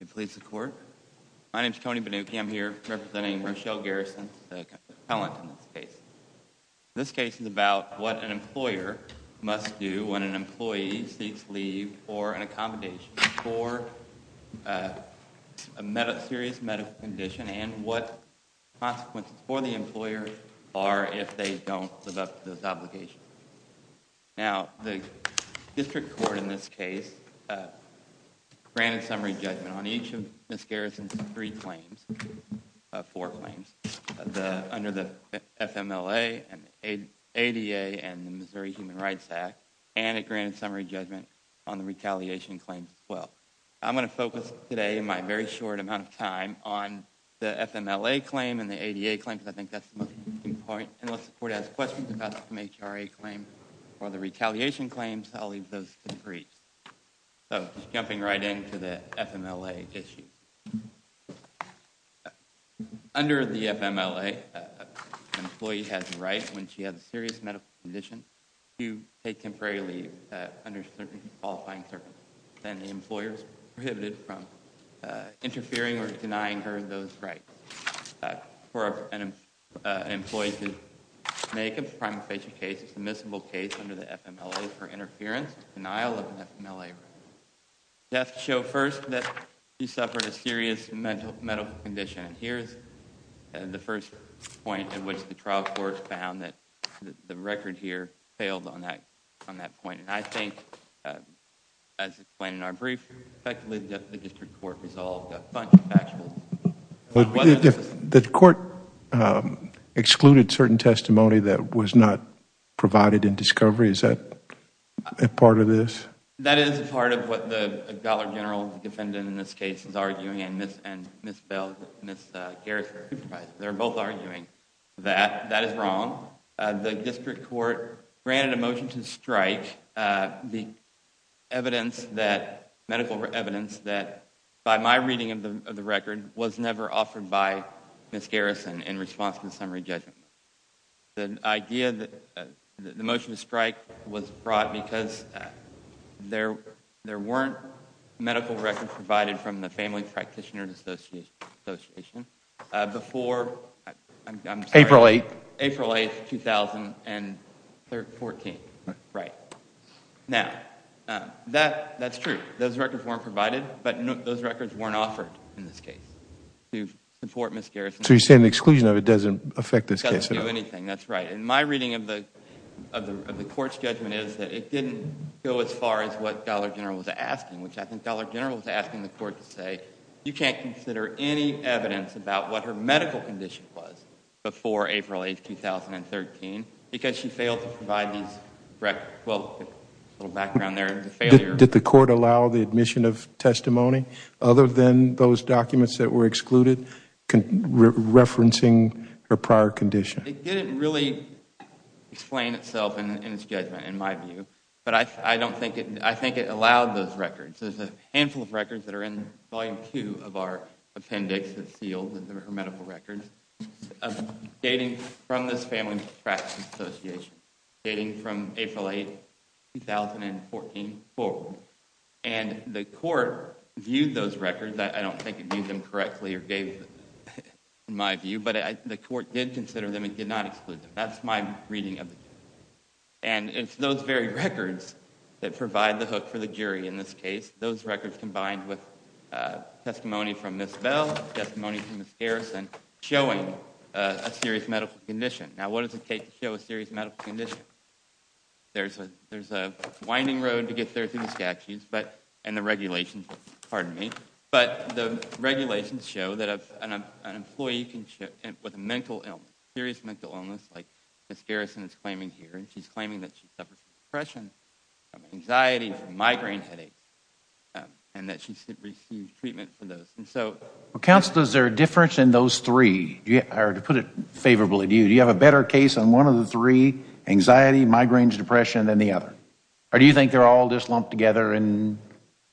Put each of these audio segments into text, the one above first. My name is Tony Banuki. I'm here representing Rochelle Garrison's appellant in this case. This case is about what an employer must do when an employee seeks leave for an accommodation for a serious medical condition and what consequences for the employer are if they don't live up to those obligations. Now, the district court in this case granted summary judgment on each of Ms. Garrison's three claims, four claims, under the FMLA, ADA, and the Missouri Human Rights Act, and it granted summary judgment on the retaliation claims as well. I'm going to focus today in my very short amount of time on the FMLA claim and the ADA claim because I think that's the most important point, and unless the court has questions about some HRA claims or the retaliation claims, I'll leave those to the jury. So, jumping right into the FMLA issue. Under the FMLA, an employee has the right, when she has a serious medical condition, to take temporary leave under certain qualifying circumstances, and the employer is prohibited from interfering or denying her those rights. For an employee to make a primary patient case, it's admissible case, under the FMLA, for interference and denial of an FMLA right. Deaths show first that she suffered a serious medical condition, and here's the first point at which the trial court found that the record here failed on that point, and I think, as explained in our brief, effectively the district court resolved a bunch of factual The court excluded certain testimony that was not provided in discovery. Is that a part of this? That is a part of what the Governor General, the defendant in this case, is arguing, and Ms. Bell, Ms. Garrison. They're both arguing that that is wrong. The district court granted a motion to strike the evidence that, medical evidence, that by my reading of the record was never offered by Ms. Garrison in response to the summary judgment. The idea that the motion to strike was brought because there weren't medical records provided from the Family Practitioners Association before April 8, 2014. Right. Now, that's true. Those records weren't provided, but those records weren't offered in this case to support Ms. Garrison. So you're saying the exclusion of it doesn't affect this case at all? It doesn't do anything, that's right. And my reading of the court's judgment is that it didn't go as far as what the Governor General was asking, which I think the Governor General was asking the court to say, you can't consider any evidence about what her medical condition was before April 8, 2013, because she failed to provide these records. Well, a little background there, it's a failure. Did the court allow the admission of testimony other than those documents that were excluded, referencing her prior condition? It didn't really explain itself in its judgment, in my view. But I don't think it, I think it allowed those records. There's a handful of records that are in Volume 2 of our appendix, that's sealed in her medical records, dating from this family contract association, dating from April 8, 2014 forward. And the court viewed those records, I don't think it viewed them correctly or gave them, in my view, but the court did consider them and did not exclude them. That's my reading of the case. And it's those very records that provide the hook for the jury in this case, those records combined with testimony from Ms. Bell, testimony from Ms. Garrison, showing a serious medical condition. Now, what does it take to show a serious medical condition? There's a winding road to get there through the statutes and the regulations, pardon me, but the regulations show that an employee with a mental illness, a serious mental illness like Ms. Garrison is claiming here, she's claiming that she suffers from depression, anxiety, migraine headaches, and that she's received treatment for those. Counsel, is there a difference in those three, or to put it favorably to you, do you have a better case on one of the three, anxiety, migraine, depression, than the other? Or do you think they're all just lumped together and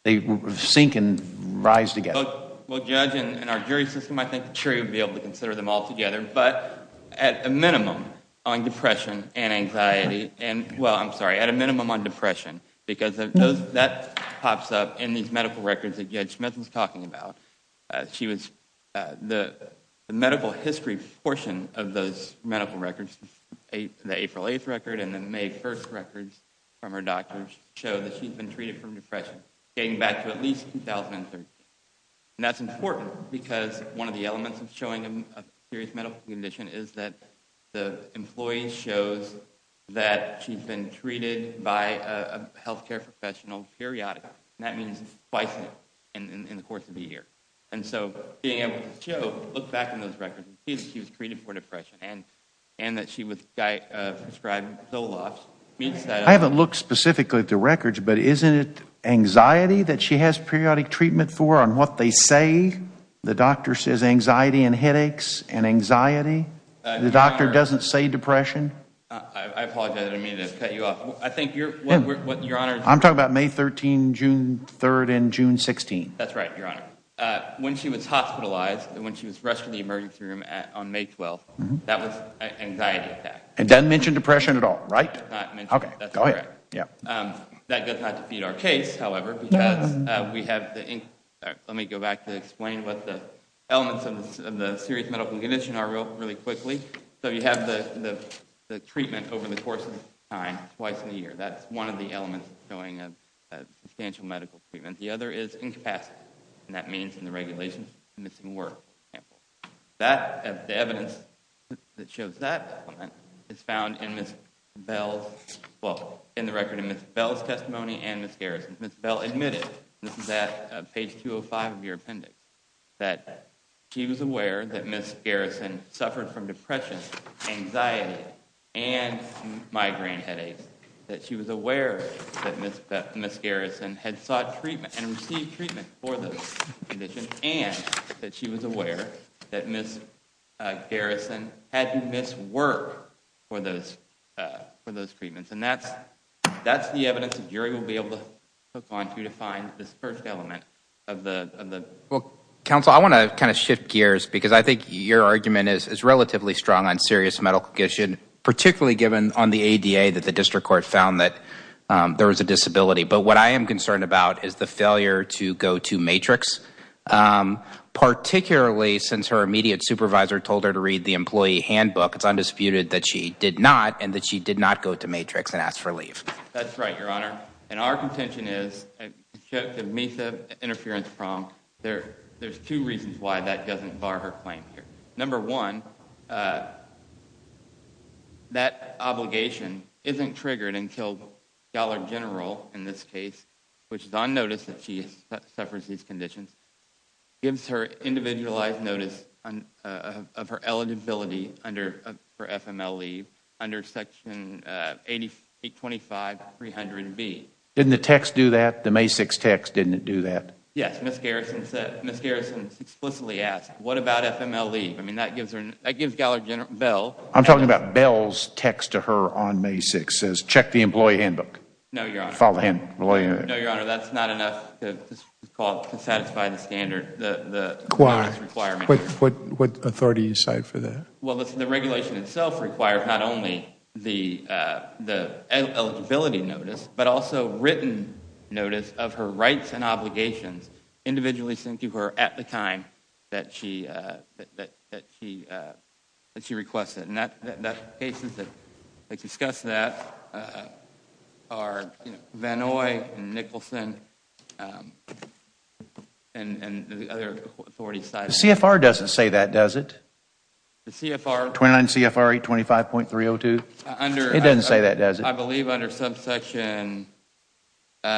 they sink and rise together? Well, Judge, in our jury system, I think the jury would be able to consider them all together, but at a minimum on depression and anxiety, well, I'm sorry, at a minimum on depression, because that pops up in these medical records that Judge Smith was talking about. The medical history portion of those medical records, the April 8th record and the May 1st records from her doctors show that she's been treated for depression, dating back to at least 2013. And that's important, because one of the elements of showing a serious medical condition is that the employee shows that she's been treated by a health care professional periodically, and that means twice in the course of a year. And so being able to show, look back in those records, that she was treated for depression and that she was prescribed Zoloft. I haven't looked specifically at the records, but isn't it anxiety that she has periodic treatment for on what they say? The doctor says anxiety and headaches and anxiety? The doctor doesn't say depression? I apologize, I didn't mean to cut you off. I think you're— I'm talking about May 13th, June 3rd, and June 16th. That's right, Your Honor. When she was hospitalized, when she was rushed to the emergency room on May 12th, that was anxiety attack. It doesn't mention depression at all, right? It does not mention it. Okay, go ahead. That does not defeat our case, however, because we have the— let me go back to explain what the elements of the serious medical condition are really quickly. So you have the treatment over the course of time, twice in a year. That's one of the elements showing a substantial medical treatment. The other is incapacity, and that means in the regulations, missing work. The evidence that shows that element is found in Ms. Bell's— well, in the record in Ms. Bell's testimony and Ms. Garrison's. Ms. Bell admitted—this is at page 205 of your appendix— that she was aware that Ms. Garrison suffered from depression, anxiety, and migraine headaches, that she was aware that Ms. Garrison had sought treatment and received treatment for those conditions, and that she was aware that Ms. Garrison had to miss work for those treatments. And that's the evidence the jury will be able to hook onto to find this first element of the— Well, counsel, I want to kind of shift gears, because I think your argument is relatively strong on serious medical condition, particularly given on the ADA that the district court found that there was a disability. But what I am concerned about is the failure to go to Matrix, particularly since her immediate supervisor told her to read the employee handbook. It's undisputed that she did not, and that she did not go to Matrix and ask for leave. That's right, Your Honor. And our contention is, except the MISA interference prompt, there's two reasons why that doesn't bar her claim here. Number one, that obligation isn't triggered until Dollar General, in this case, which is on notice that she suffers these conditions, gives her individualized notice of her eligibility for FML leave under Section 825.300B. Didn't the text do that? The May 6 text, didn't it do that? Yes, Ms. Garrison explicitly asked, what about FML leave? I mean, that gives Dollar General, Bell. I'm talking about Bell's text to her on May 6. It says, check the employee handbook. No, Your Honor. Follow the employee handbook. No, Your Honor, that's not enough to satisfy the standard. Why? What authority do you cite for that? Well, the regulation itself requires not only the eligibility notice, but also written notice of her rights and obligations individually sent to her at the time that she requested. And the cases that discuss that are Vannoy and Nicholson and the other authorities cited. The CFR doesn't say that, does it? The CFR? 29 CFR 825.302. It doesn't say that, does it? I believe under subsection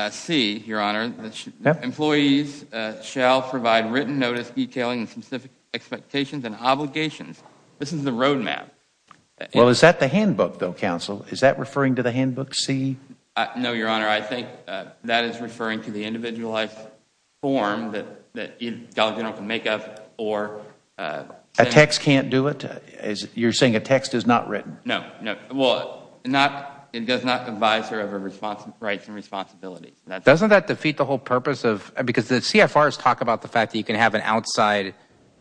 C, Your Honor, employees shall provide written notice detailing specific expectations and obligations. This is the roadmap. Well, is that the handbook, though, counsel? Is that referring to the handbook C? No, Your Honor. I think that is referring to the individualized form that Dollar General can make up. A text can't do it? You're saying a text is not written? No. Well, it does not advise her of her rights and responsibilities. Doesn't that defeat the whole purpose? Because the CFRs talk about the fact that you can have an outside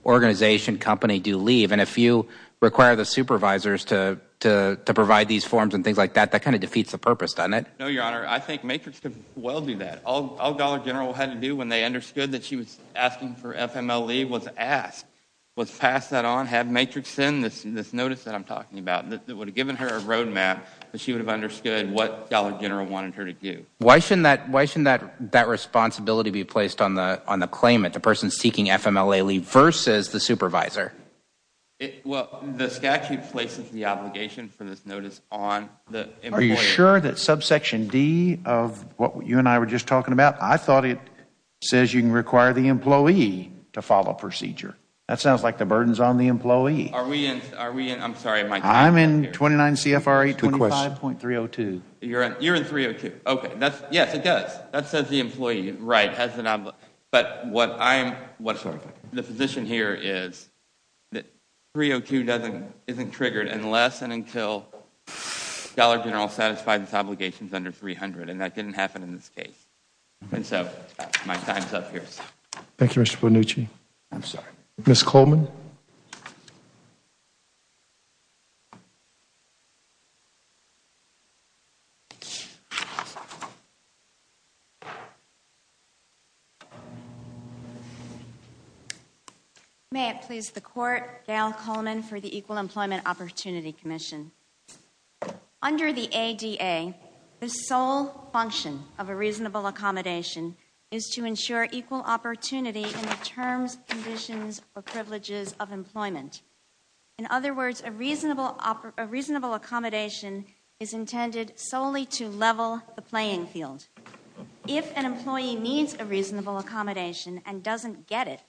organization company do leave, and if you require the supervisors to provide these forms and things like that, that kind of defeats the purpose, doesn't it? No, Your Honor. I think Matrix could well do that. All Dollar General had to do when they understood that she was asking for FMLE was ask, was pass that on, have Matrix send this notice that I'm talking about that would have given her a roadmap that she would have understood what Dollar General wanted her to do. Why shouldn't that responsibility be placed on the claimant, the person seeking FMLE leave versus the supervisor? Well, the statute places the obligation for this notice on the employee. Are you sure that subsection D of what you and I were just talking about, I thought it says you can require the employee to follow procedure. That sounds like the burden is on the employee. Are we in? I'm sorry, Mike. I'm in 29 CFRA 25.302. You're in 302. Okay. Yes, it does. That says the employee has an obligation. But the position here is that 302 isn't triggered unless and until Dollar General satisfies its obligations under 300, and that didn't happen in this case. And so my time's up here. Thank you, Mr. Bonucci. I'm sorry. Ms. Coleman? May it please the Court, Gail Coleman for the Equal Employment Opportunity Commission. Under the ADA, the sole function of a reasonable accommodation is to ensure equal opportunity in the terms, conditions, or privileges of employment. In other words, a reasonable accommodation is intended solely to level the playing field. If an employee needs a reasonable accommodation and doesn't get it,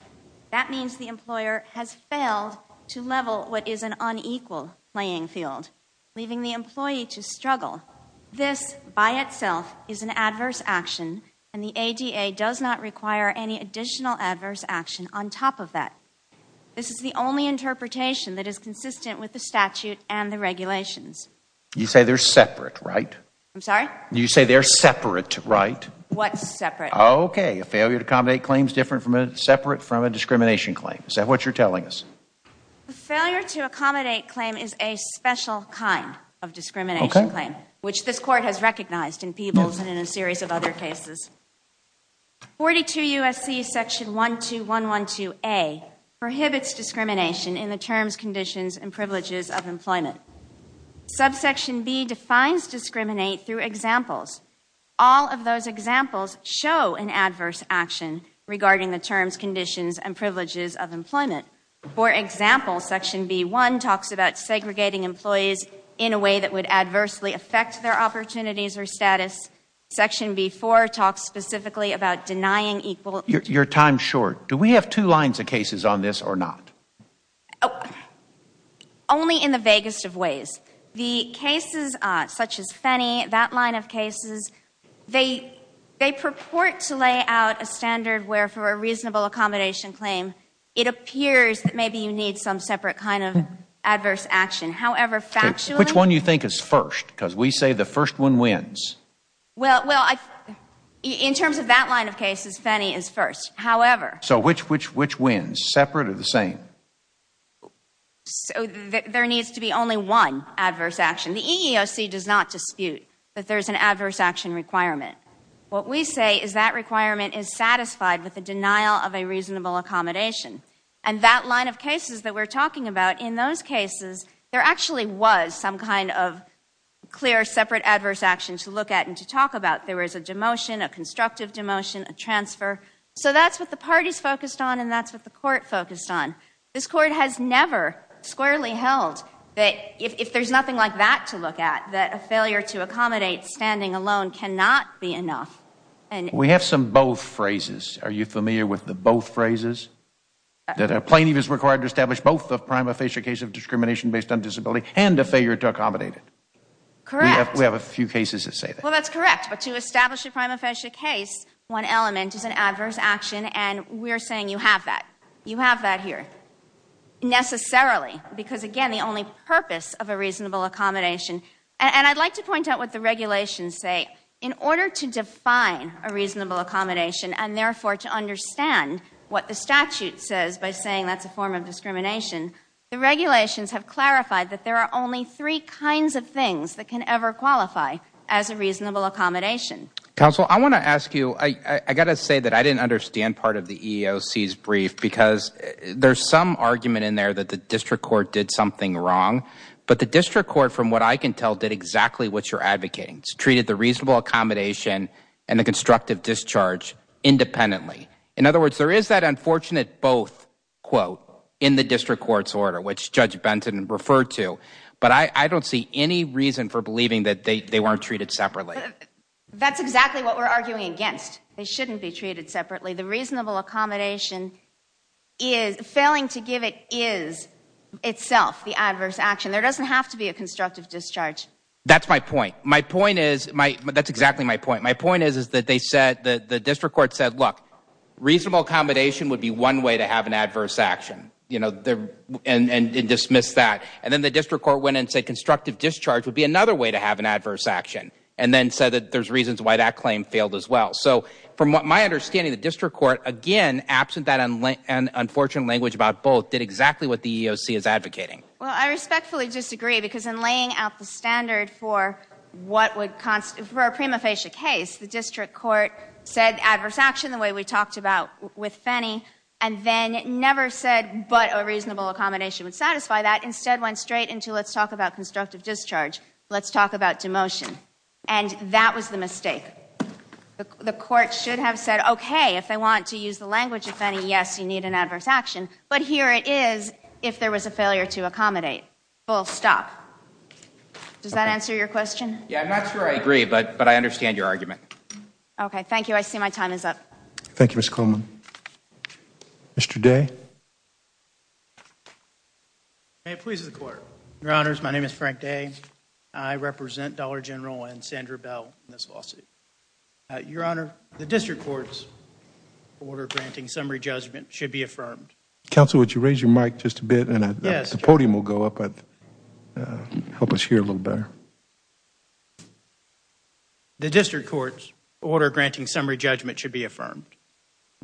that means the employer has failed to level what is an unequal playing field, leaving the employee to struggle. This, by itself, is an adverse action, and the ADA does not require any additional adverse action on top of that. This is the only interpretation that is consistent with the statute and the regulations. You say they're separate, right? I'm sorry? You say they're separate, right? What's separate? Okay, a failure to accommodate claim is separate from a discrimination claim. Is that what you're telling us? A failure to accommodate claim is a special kind of discrimination claim, which this Court has recognized in Peebles and in a series of other cases. 42 U.S.C. section 12112A prohibits discrimination in the terms, conditions, and privileges of employment. Subsection B defines discriminate through examples. All of those examples show an adverse action regarding the terms, conditions, and privileges of employment. For example, section B1 talks about segregating employees in a way that would adversely affect their opportunities or status. Section B4 talks specifically about denying equal Your time's short. Do we have two lines of cases on this or not? Only in the vaguest of ways. The cases such as Fenney, that line of cases, they purport to lay out a standard where for a reasonable accommodation claim, it appears that maybe you need some separate kind of adverse action. However, factually Which one do you think is first? Because we say the first one wins. Well, in terms of that line of cases, Fenney is first. However So which wins? Separate or the same? So there needs to be only one adverse action. The EEOC does not dispute that there's an adverse action requirement. What we say is that requirement is satisfied with the denial of a reasonable accommodation. And that line of cases that we're talking about, in those cases there actually was some kind of clear separate adverse action to look at and to talk about. There was a demotion, a constructive demotion, a transfer. So that's what the parties focused on and that's what the court focused on. This court has never squarely held that if there's nothing like that to look at, that a failure to accommodate standing alone cannot be enough. We have some both phrases. Are you familiar with the both phrases? That a plaintiff is required to establish both a prima facie case of discrimination based on disability and a failure to accommodate it. Correct. We have a few cases that say that. Well, that's correct. But to establish a prima facie case, one element is an adverse action, and we're saying you have that. Necessarily. Because, again, the only purpose of a reasonable accommodation. And I'd like to point out what the regulations say. In order to define a reasonable accommodation and therefore to understand what the statute says by saying that's a form of discrimination, the regulations have clarified that there are only three kinds of things that can ever qualify as a reasonable accommodation. Counsel, I want to ask you, I got to say that I didn't understand part of the EEOC's brief because there's some argument in there that the district court did something wrong, but the district court, from what I can tell, did exactly what you're advocating. It's treated the reasonable accommodation and the constructive discharge independently. In other words, there is that unfortunate both quote in the district court's order, which Judge Benton referred to, but I don't see any reason for believing that they weren't treated separately. That's exactly what we're arguing against. They shouldn't be treated separately. The reasonable accommodation, failing to give it is itself the adverse action. There doesn't have to be a constructive discharge. That's my point. That's exactly my point. My point is that the district court said, look, reasonable accommodation would be one way to have an adverse action and dismissed that. And then the district court went and said constructive discharge would be another way to have an adverse action and then said that there's reasons why that claim failed as well. So from my understanding, the district court, again, absent that unfortunate language about both, did exactly what the EEOC is advocating. Well, I respectfully disagree because in laying out the standard for a prima facie case, the district court said adverse action the way we talked about with Fenny and then never said but a reasonable accommodation would satisfy that. Instead, went straight into let's talk about constructive discharge. Let's talk about demotion. And that was the mistake. The court should have said, okay, if they want to use the language of Fenny, yes, you need an adverse action, but here it is if there was a failure to accommodate. Full stop. Does that answer your question? Yeah, I'm not sure I agree, but I understand your argument. Okay, thank you. I see my time is up. Thank you, Ms. Coleman. Mr. Day. May it please the Court. Your Honors, my name is Frank Day. I represent Dollar General and Sandra Bell in this lawsuit. Your Honor, the district court's order granting summary judgment should be affirmed. Counsel, would you raise your mic just a bit and the podium will go up and help us hear a little better. The district court's order granting summary judgment should be affirmed.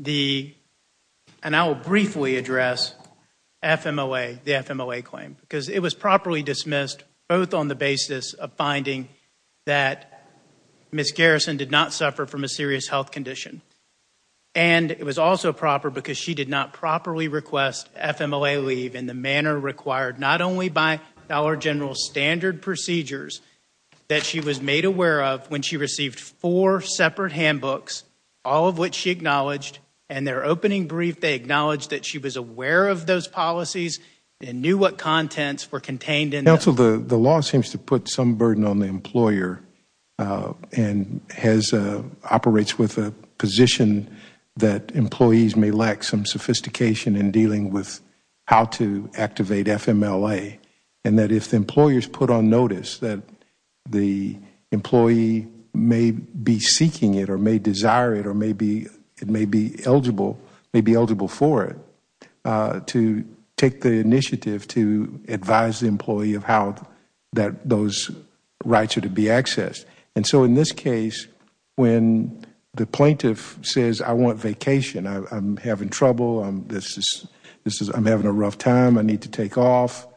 And I will briefly address FMLA, the FMLA claim, because it was properly dismissed, both on the basis of finding that Ms. Garrison did not suffer from a serious health condition, and it was also proper because she did not properly request FMLA leave in the manner required not only by Dollar General's standard procedures that she was made aware of when she received four separate handbooks, all of which she acknowledged, and their opening brief they acknowledged that she was aware of those policies and knew what contents were contained in them. Counsel, the law seems to put some burden on the employer and operates with a position that employees may lack some sophistication in dealing with how to activate FMLA, and that if employers put on notice that the employee may be seeking it or may desire it or may be eligible for it, to take the initiative to advise the employee of how those rights are to be accessed. And so in this case, when the plaintiff says, I want vacation, I'm having trouble, I'm having a rough time, I need to take off,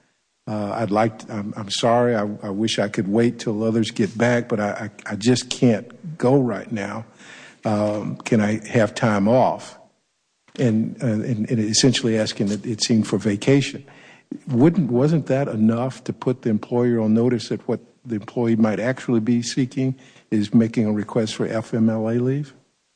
I'm sorry, I wish I could wait until others get back, but I just can't go right now. Can I have time off? And essentially asking that it seemed for vacation. Wasn't that enough to put the employer on notice that what the employee might actually be seeking is making a request for FMLA leave?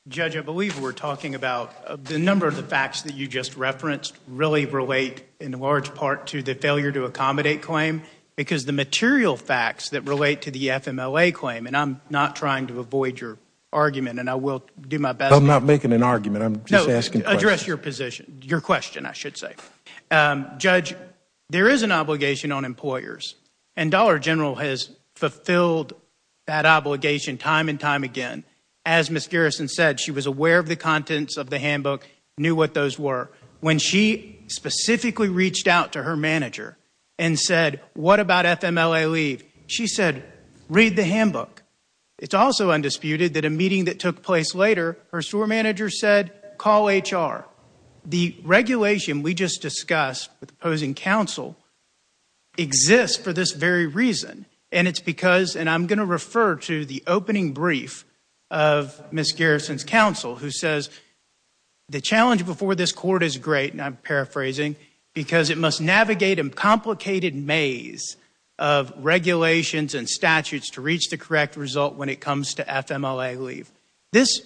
Judge, I believe we're talking about the number of the facts that you just referenced really relate in large part to the failure to accommodate claim because the material facts that relate to the FMLA claim, and I'm not trying to avoid your argument and I will do my best. I'm not making an argument, I'm just asking a question. No, address your position, your question I should say. Judge, there is an obligation on employers, and Dollar General has fulfilled that obligation time and time again as Ms. Garrison said, she was aware of the contents of the handbook, knew what those were. When she specifically reached out to her manager and said, what about FMLA leave? She said, read the handbook. It's also undisputed that a meeting that took place later, her store manager said, call HR. The regulation we just discussed with opposing counsel exists for this very reason, and it's because, and I'm going to refer to the opening brief of Ms. Garrison's counsel, who says, the challenge before this court is great, and I'm paraphrasing, because it must navigate a complicated maze of regulations and statutes to reach the correct result when it comes to FMLA leave. This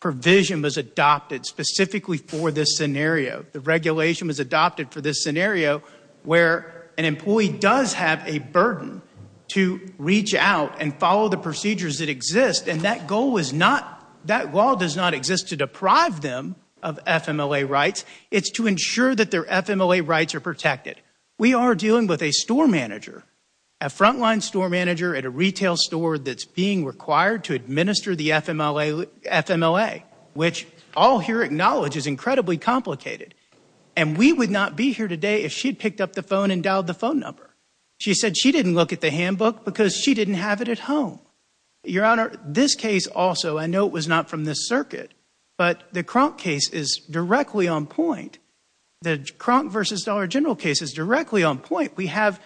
provision was adopted specifically for this scenario. The regulation was adopted for this scenario where an employee does have a burden to reach out and follow the procedures that exist, and that goal does not exist to deprive them of FMLA rights. It's to ensure that their FMLA rights are protected. We are dealing with a store manager, a frontline store manager at a retail store that's being required to administer the FMLA, which all here acknowledge is incredibly complicated. And we would not be here today if she'd picked up the phone and dialed the phone number. She said she didn't look at the handbook because she didn't have it at home. Your Honor, this case also, I know it was not from this circuit, but the Kronk case is directly on point. The Kronk v. Dollar General case is directly on point. We have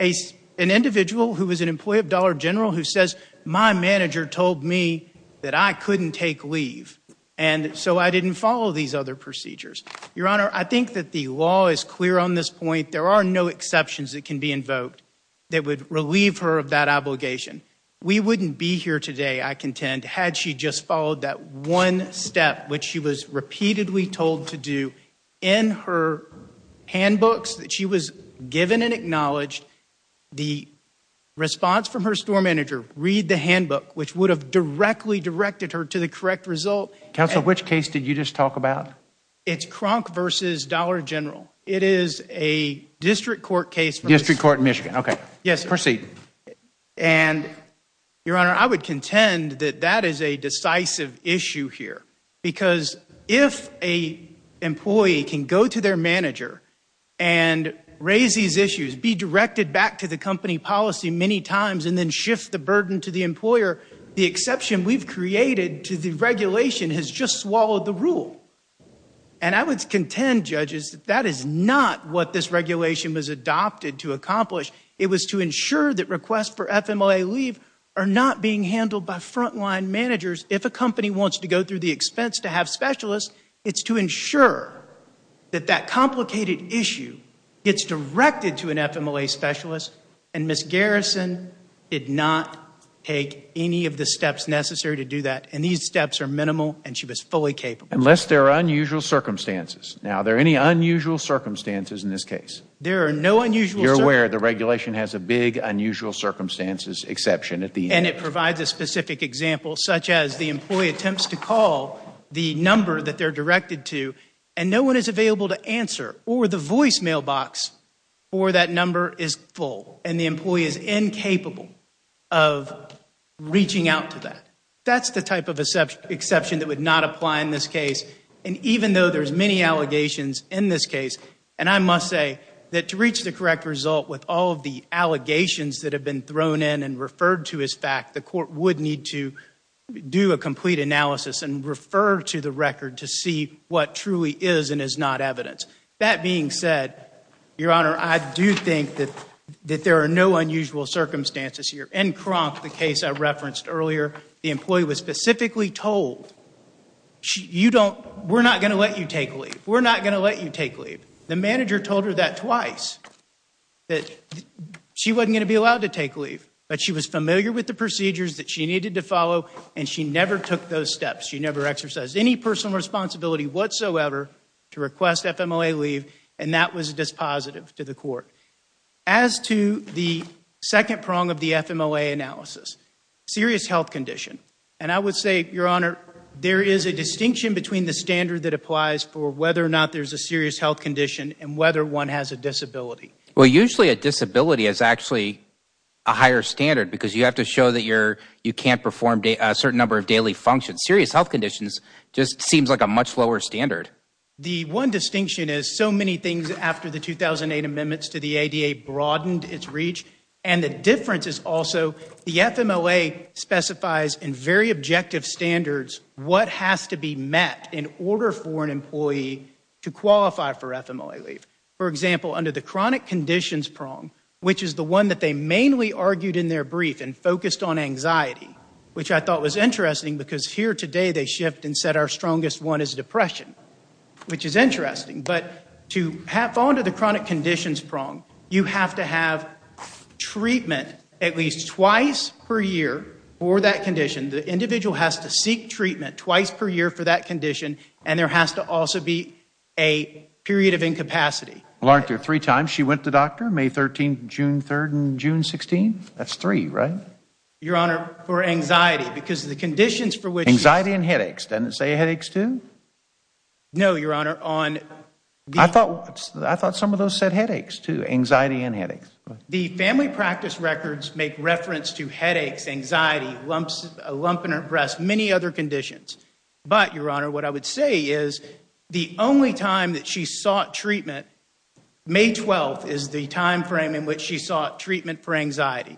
an individual who was an employee of Dollar General who says, my manager told me that I couldn't take leave, and so I didn't follow these other procedures. Your Honor, I think that the law is clear on this point. There are no exceptions that can be invoked that would relieve her of that obligation. We wouldn't be here today, I contend, had she just followed that one step, which she was repeatedly told to do in her handbooks that she was given and acknowledged. The response from her store manager, read the handbook, which would have directly directed her to the correct result. Counsel, which case did you just talk about? It's Kronk v. Dollar General. It is a district court case. District court in Michigan, okay. Proceed. Your Honor, I would contend that that is a decisive issue here, because if an employee can go to their manager and raise these issues, be directed back to the company policy many times, and then shift the burden to the employer, the exception we've created to the regulation has just swallowed the rule. And I would contend, judges, that that is not what this regulation was adopted to accomplish. It was to ensure that requests for FMLA leave are not being handled by front-line managers. If a company wants to go through the expense to have specialists, it's to ensure that that complicated issue gets directed to an FMLA specialist, and Ms. Garrison did not take any of the steps necessary to do that. And these steps are minimal, and she was fully capable. Unless there are unusual circumstances. Now, are there any unusual circumstances in this case? There are no unusual circumstances. You're aware the regulation has a big unusual circumstances exception at the end. And it provides a specific example, such as the employee attempts to call the number that they're directed to, and no one is available to answer, or the voicemail box for that number is full, and the employee is incapable of reaching out to that. That's the type of exception that would not apply in this case. And even though there's many allegations in this case, and I must say that to reach the correct result with all of the allegations that have been thrown in and referred to as fact, the court would need to do a complete analysis and refer to the record to see what truly is and is not evidence. That being said, Your Honor, I do think that there are no unusual circumstances here. In Kronk, the case I referenced earlier, the employee was specifically told, We're not going to let you take leave. We're not going to let you take leave. The manager told her that twice, that she wasn't going to be allowed to take leave, but she was familiar with the procedures that she needed to follow, and she never took those steps. She never exercised any personal responsibility whatsoever to request FMLA leave, and that was dispositive to the court. As to the second prong of the FMLA analysis, serious health condition, and I would say, Your Honor, there is a distinction between the standard that applies for whether or not there's a serious health condition and whether one has a disability. Well, usually a disability is actually a higher standard because you have to show that you can't perform a certain number of daily functions. Serious health conditions just seems like a much lower standard. The one distinction is so many things after the 2008 amendments to the ADA broadened its reach, and the difference is also the FMLA specifies in very objective standards what has to be met in order for an employee to qualify for FMLA leave. For example, under the chronic conditions prong, which is the one that they mainly argued in their brief and focused on anxiety, which I thought was interesting because here today they shift and said our strongest one is depression, which is interesting. But to fall under the chronic conditions prong, you have to have treatment at least twice per year for that condition. The individual has to seek treatment twice per year for that condition, and there has to also be a period of incapacity. Well, aren't there three times she went to the doctor? May 13th, June 3rd, and June 16th? That's three, right? Your Honor, for anxiety because the conditions for which... Anxiety and headaches. Doesn't it say headaches too? No, Your Honor. I thought some of those said headaches too, anxiety and headaches. The family practice records make reference to headaches, anxiety, a lump in her breast, many other conditions. But, Your Honor, what I would say is the only time that she sought treatment, May 12th is the time frame in which she sought treatment for anxiety.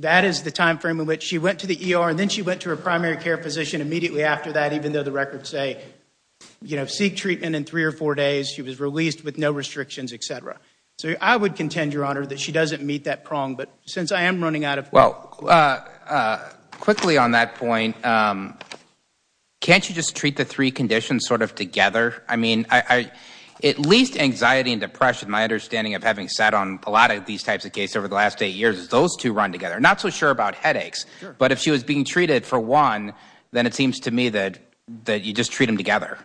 That is the time frame in which she went to the ER and then she went to her primary care physician immediately after that, even though the records say, you know, seek treatment in three or four days. She was released with no restrictions, et cetera. So I would contend, Your Honor, that she doesn't meet that prong, but since I am running out of time... Well, quickly on that point, can't you just treat the three conditions sort of together? I mean, at least anxiety and depression, my understanding of having sat on a lot of these types of cases over the last eight years, is those two run together. I'm not so sure about headaches, but if she was being treated for one, then it seems to me that you just treat them together.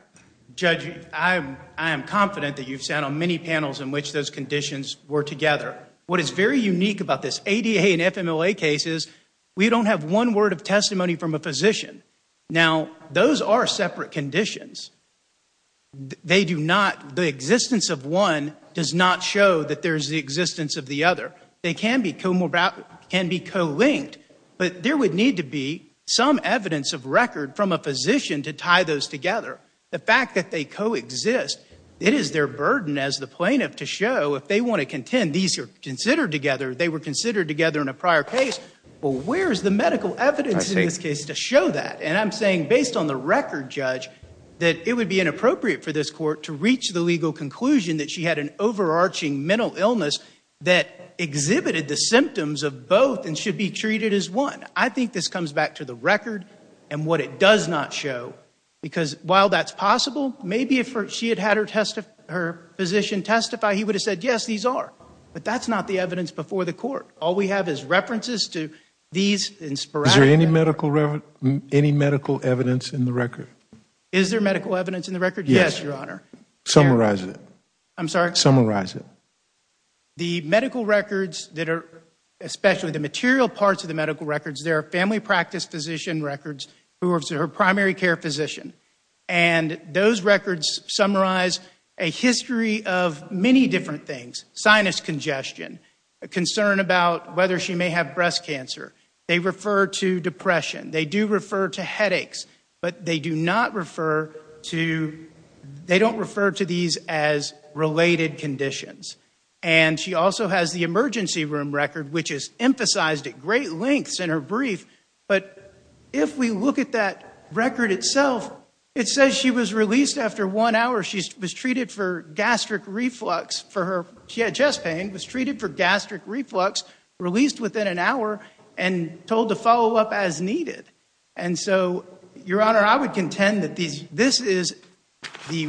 Judge, I am confident that you've sat on many panels in which those conditions were together. What is very unique about this ADA and FMLA case is we don't have one word of testimony from a physician. Now, those are separate conditions. They do not... The existence of one does not show that there is the existence of the other. They can be co-linked, but there would need to be some evidence of record from a physician to tie those together. The fact that they co-exist, it is their burden as the plaintiff to show, if they want to contend these are considered together, they were considered together in a prior case, but where is the medical evidence in this case to show that? And I'm saying, based on the record, Judge, that it would be inappropriate for this Court to reach the legal conclusion that she had an overarching mental illness that exhibited the symptoms of both and should be treated as one. I think this comes back to the record and what it does not show, because while that's possible, maybe if she had had her physician testify, he would have said, yes, these are. But that's not the evidence before the Court. All we have is references to these in sporadic... Is there any medical evidence in the record? Is there medical evidence in the record? Yes, Your Honor. Summarize it. I'm sorry? Summarize it. The medical records that are... Especially the material parts of the medical records, there are family practice physician records who are her primary care physician, and those records summarize a history of many different things. Sinus congestion, a concern about whether she may have breast cancer. They refer to depression. They do refer to headaches, but they do not refer to... And she also has the emergency room record, which is emphasized at great lengths in her brief. But if we look at that record itself, it says she was released after one hour. She was treated for gastric reflux for her... She had chest pain, was treated for gastric reflux, released within an hour, and told to follow up as needed. And so, Your Honor, I would contend that this is a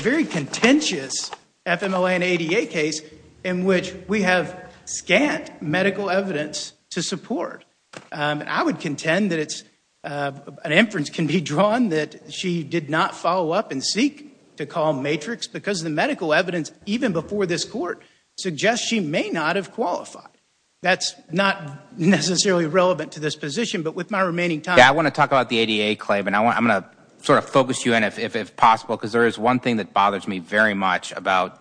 very contentious FMLA and ADA case in which we have scant medical evidence to support. I would contend that an inference can be drawn that she did not follow up and seek to call Matrix because the medical evidence, even before this court, suggests she may not have qualified. That's not necessarily relevant to this position, but with my remaining time... Yeah, I want to talk about the ADA claim, and I'm going to sort of focus you in, if possible, because there is one thing that bothers me very much about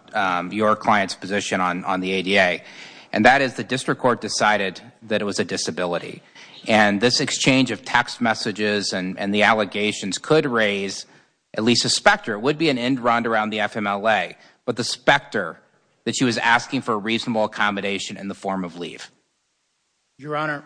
your client's position on the ADA, and that is the district court decided that it was a disability. And this exchange of text messages and the allegations could raise at least a specter. It would be an end round around the FMLA, but the specter that she was asking for a reasonable accommodation in the form of leave. Your Honor,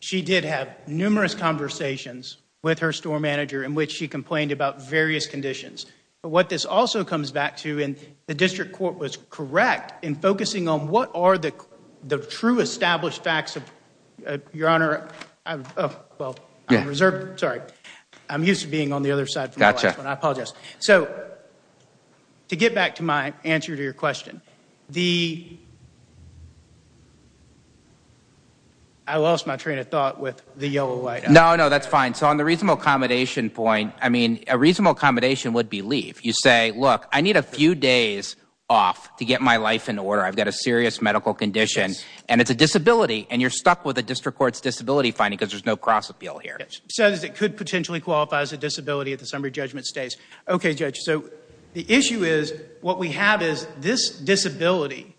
she did have numerous conversations with her store manager in which she complained about various conditions. But what this also comes back to, and the district court was correct in focusing on what are the true established facts of... Your Honor, I'm reserved. Sorry, I'm used to being on the other side from the last one. I apologize. So, to get back to my answer to your question, the... I lost my train of thought with the yellow light. No, no, that's fine. So, on the reasonable accommodation point, I mean, a reasonable accommodation would be leave. You say, look, I need a few days off to get my life in order. I've got a serious medical condition, and it's a disability, and you're stuck with a district court's disability finding because there's no cross appeal here. Says it could potentially qualify as a disability if the summary judgment stays. Okay, Judge, so the issue is, what we have is this disability.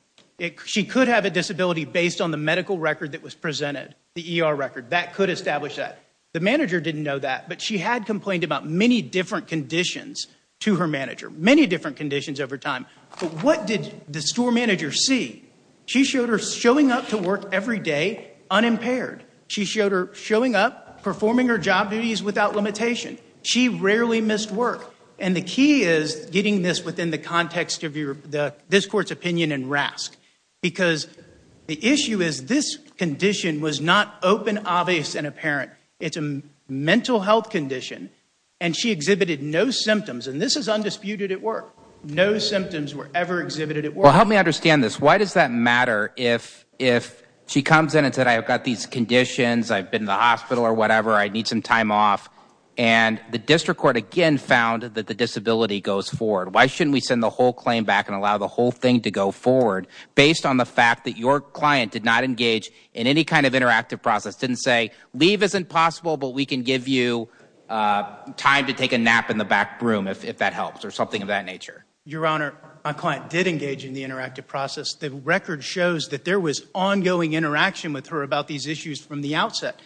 She could have a disability based on the medical record that was presented, the ER record. That could establish that. The manager didn't know that, but she had complained about many different conditions to her manager, many different conditions over time. But what did the store manager see? She showed her showing up to work every day unimpaired. She showed her showing up, performing her job duties without limitation. She rarely missed work. And the key is getting this within the context of this court's opinion and RASC because the issue is this condition was not open, obvious, and apparent. It's a mental health condition, and she exhibited no symptoms, and this is undisputed at work. No symptoms were ever exhibited at work. Well, help me understand this. Why does that matter if she comes in and said, I've got these conditions, I've been to the hospital or whatever, I need some time off, and the district court again found that the disability goes forward? Why shouldn't we send the whole claim back and allow the whole thing to go forward based on the fact that your client did not engage in any kind of interactive process, didn't say, leave isn't possible, but we can give you time to take a nap in the back room if that helps, or something of that nature? Your Honor, my client did engage in the interactive process. The record shows that there was ongoing interaction with her about these issues from the outset.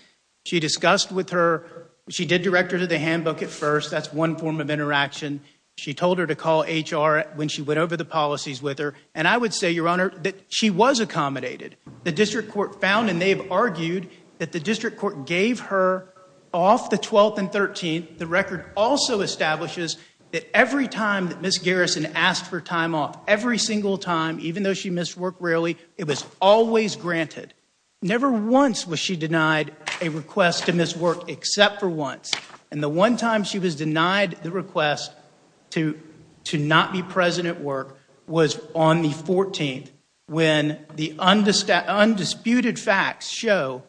She discussed with her, she did direct her to the handbook at first. That's one form of interaction. She told her to call HR when she went over the policies with her, and I would say, Your Honor, that she was accommodated. The district court found, and they've argued, that the district court gave her off the 12th and 13th. The record also establishes that every time that Ms. Garrison asked for time off, every single time, even though she missed work rarely, it was always granted. Never once was she denied a request to miss work, except for once. And the one time she was denied the request to not be present at work was on the 14th, when the undisputed facts show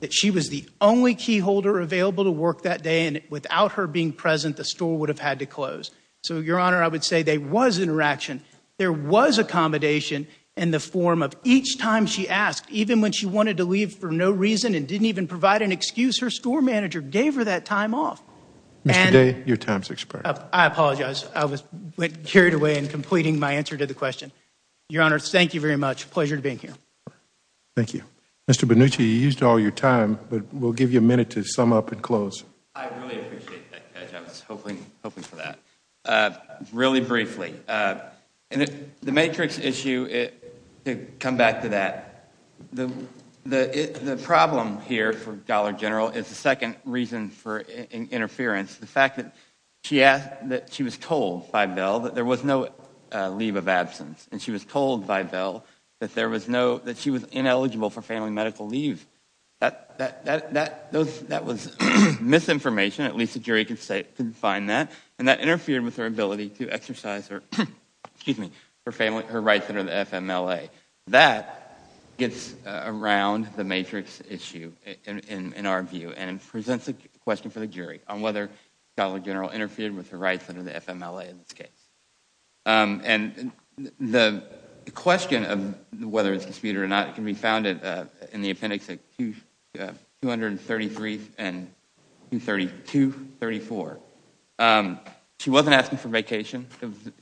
that she was the only keyholder available to work that day, and without her being present, the store would have had to close. So, Your Honor, I would say there was interaction. There was accommodation in the form of each time she asked, even when she wanted to leave for no reason and didn't even provide an excuse, her store manager gave her that time off. Mr. Day, your time is expired. I apologize. I was carried away in completing my answer to the question. Your Honor, thank you very much. Pleasure to be here. Thank you. Mr. Bonucci, you used all your time, but we'll give you a minute to sum up and close. I really appreciate that, Judge. I was hoping for that. Really briefly, the matrix issue, to come back to that, the problem here for Dollar General is the second reason for interference. The fact that she was told by Bell that there was no leave of absence and she was told by Bell that she was ineligible for family medical leave. That was misinformation. At least the jury could find that, and that interfered with her ability to exercise her rights under the FMLA. That gets around the matrix issue, in our view, and presents a question for the jury on whether Dollar General interfered with her rights under the FMLA in this case. The question of whether it's disputed or not can be found in the appendix 233 and 234. She wasn't asking for vacation.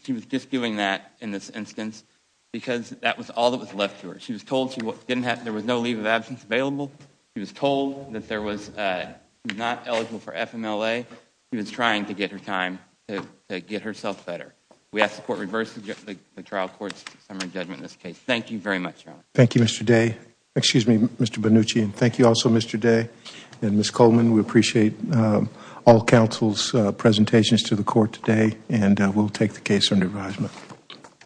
She was just doing that in this instance because that was all that was left to her. She was told there was no leave of absence available. She was told that she was not eligible for FMLA. She was trying to get her time to get herself better. We ask the court to reverse the trial court's summary judgment in this case. Thank you very much, Your Honor. Thank you, Mr. Day. Excuse me, Mr. Bonucci. Thank you also, Mr. Day and Ms. Coleman. We appreciate all counsel's presentations to the court today, and we'll take the case under advisement.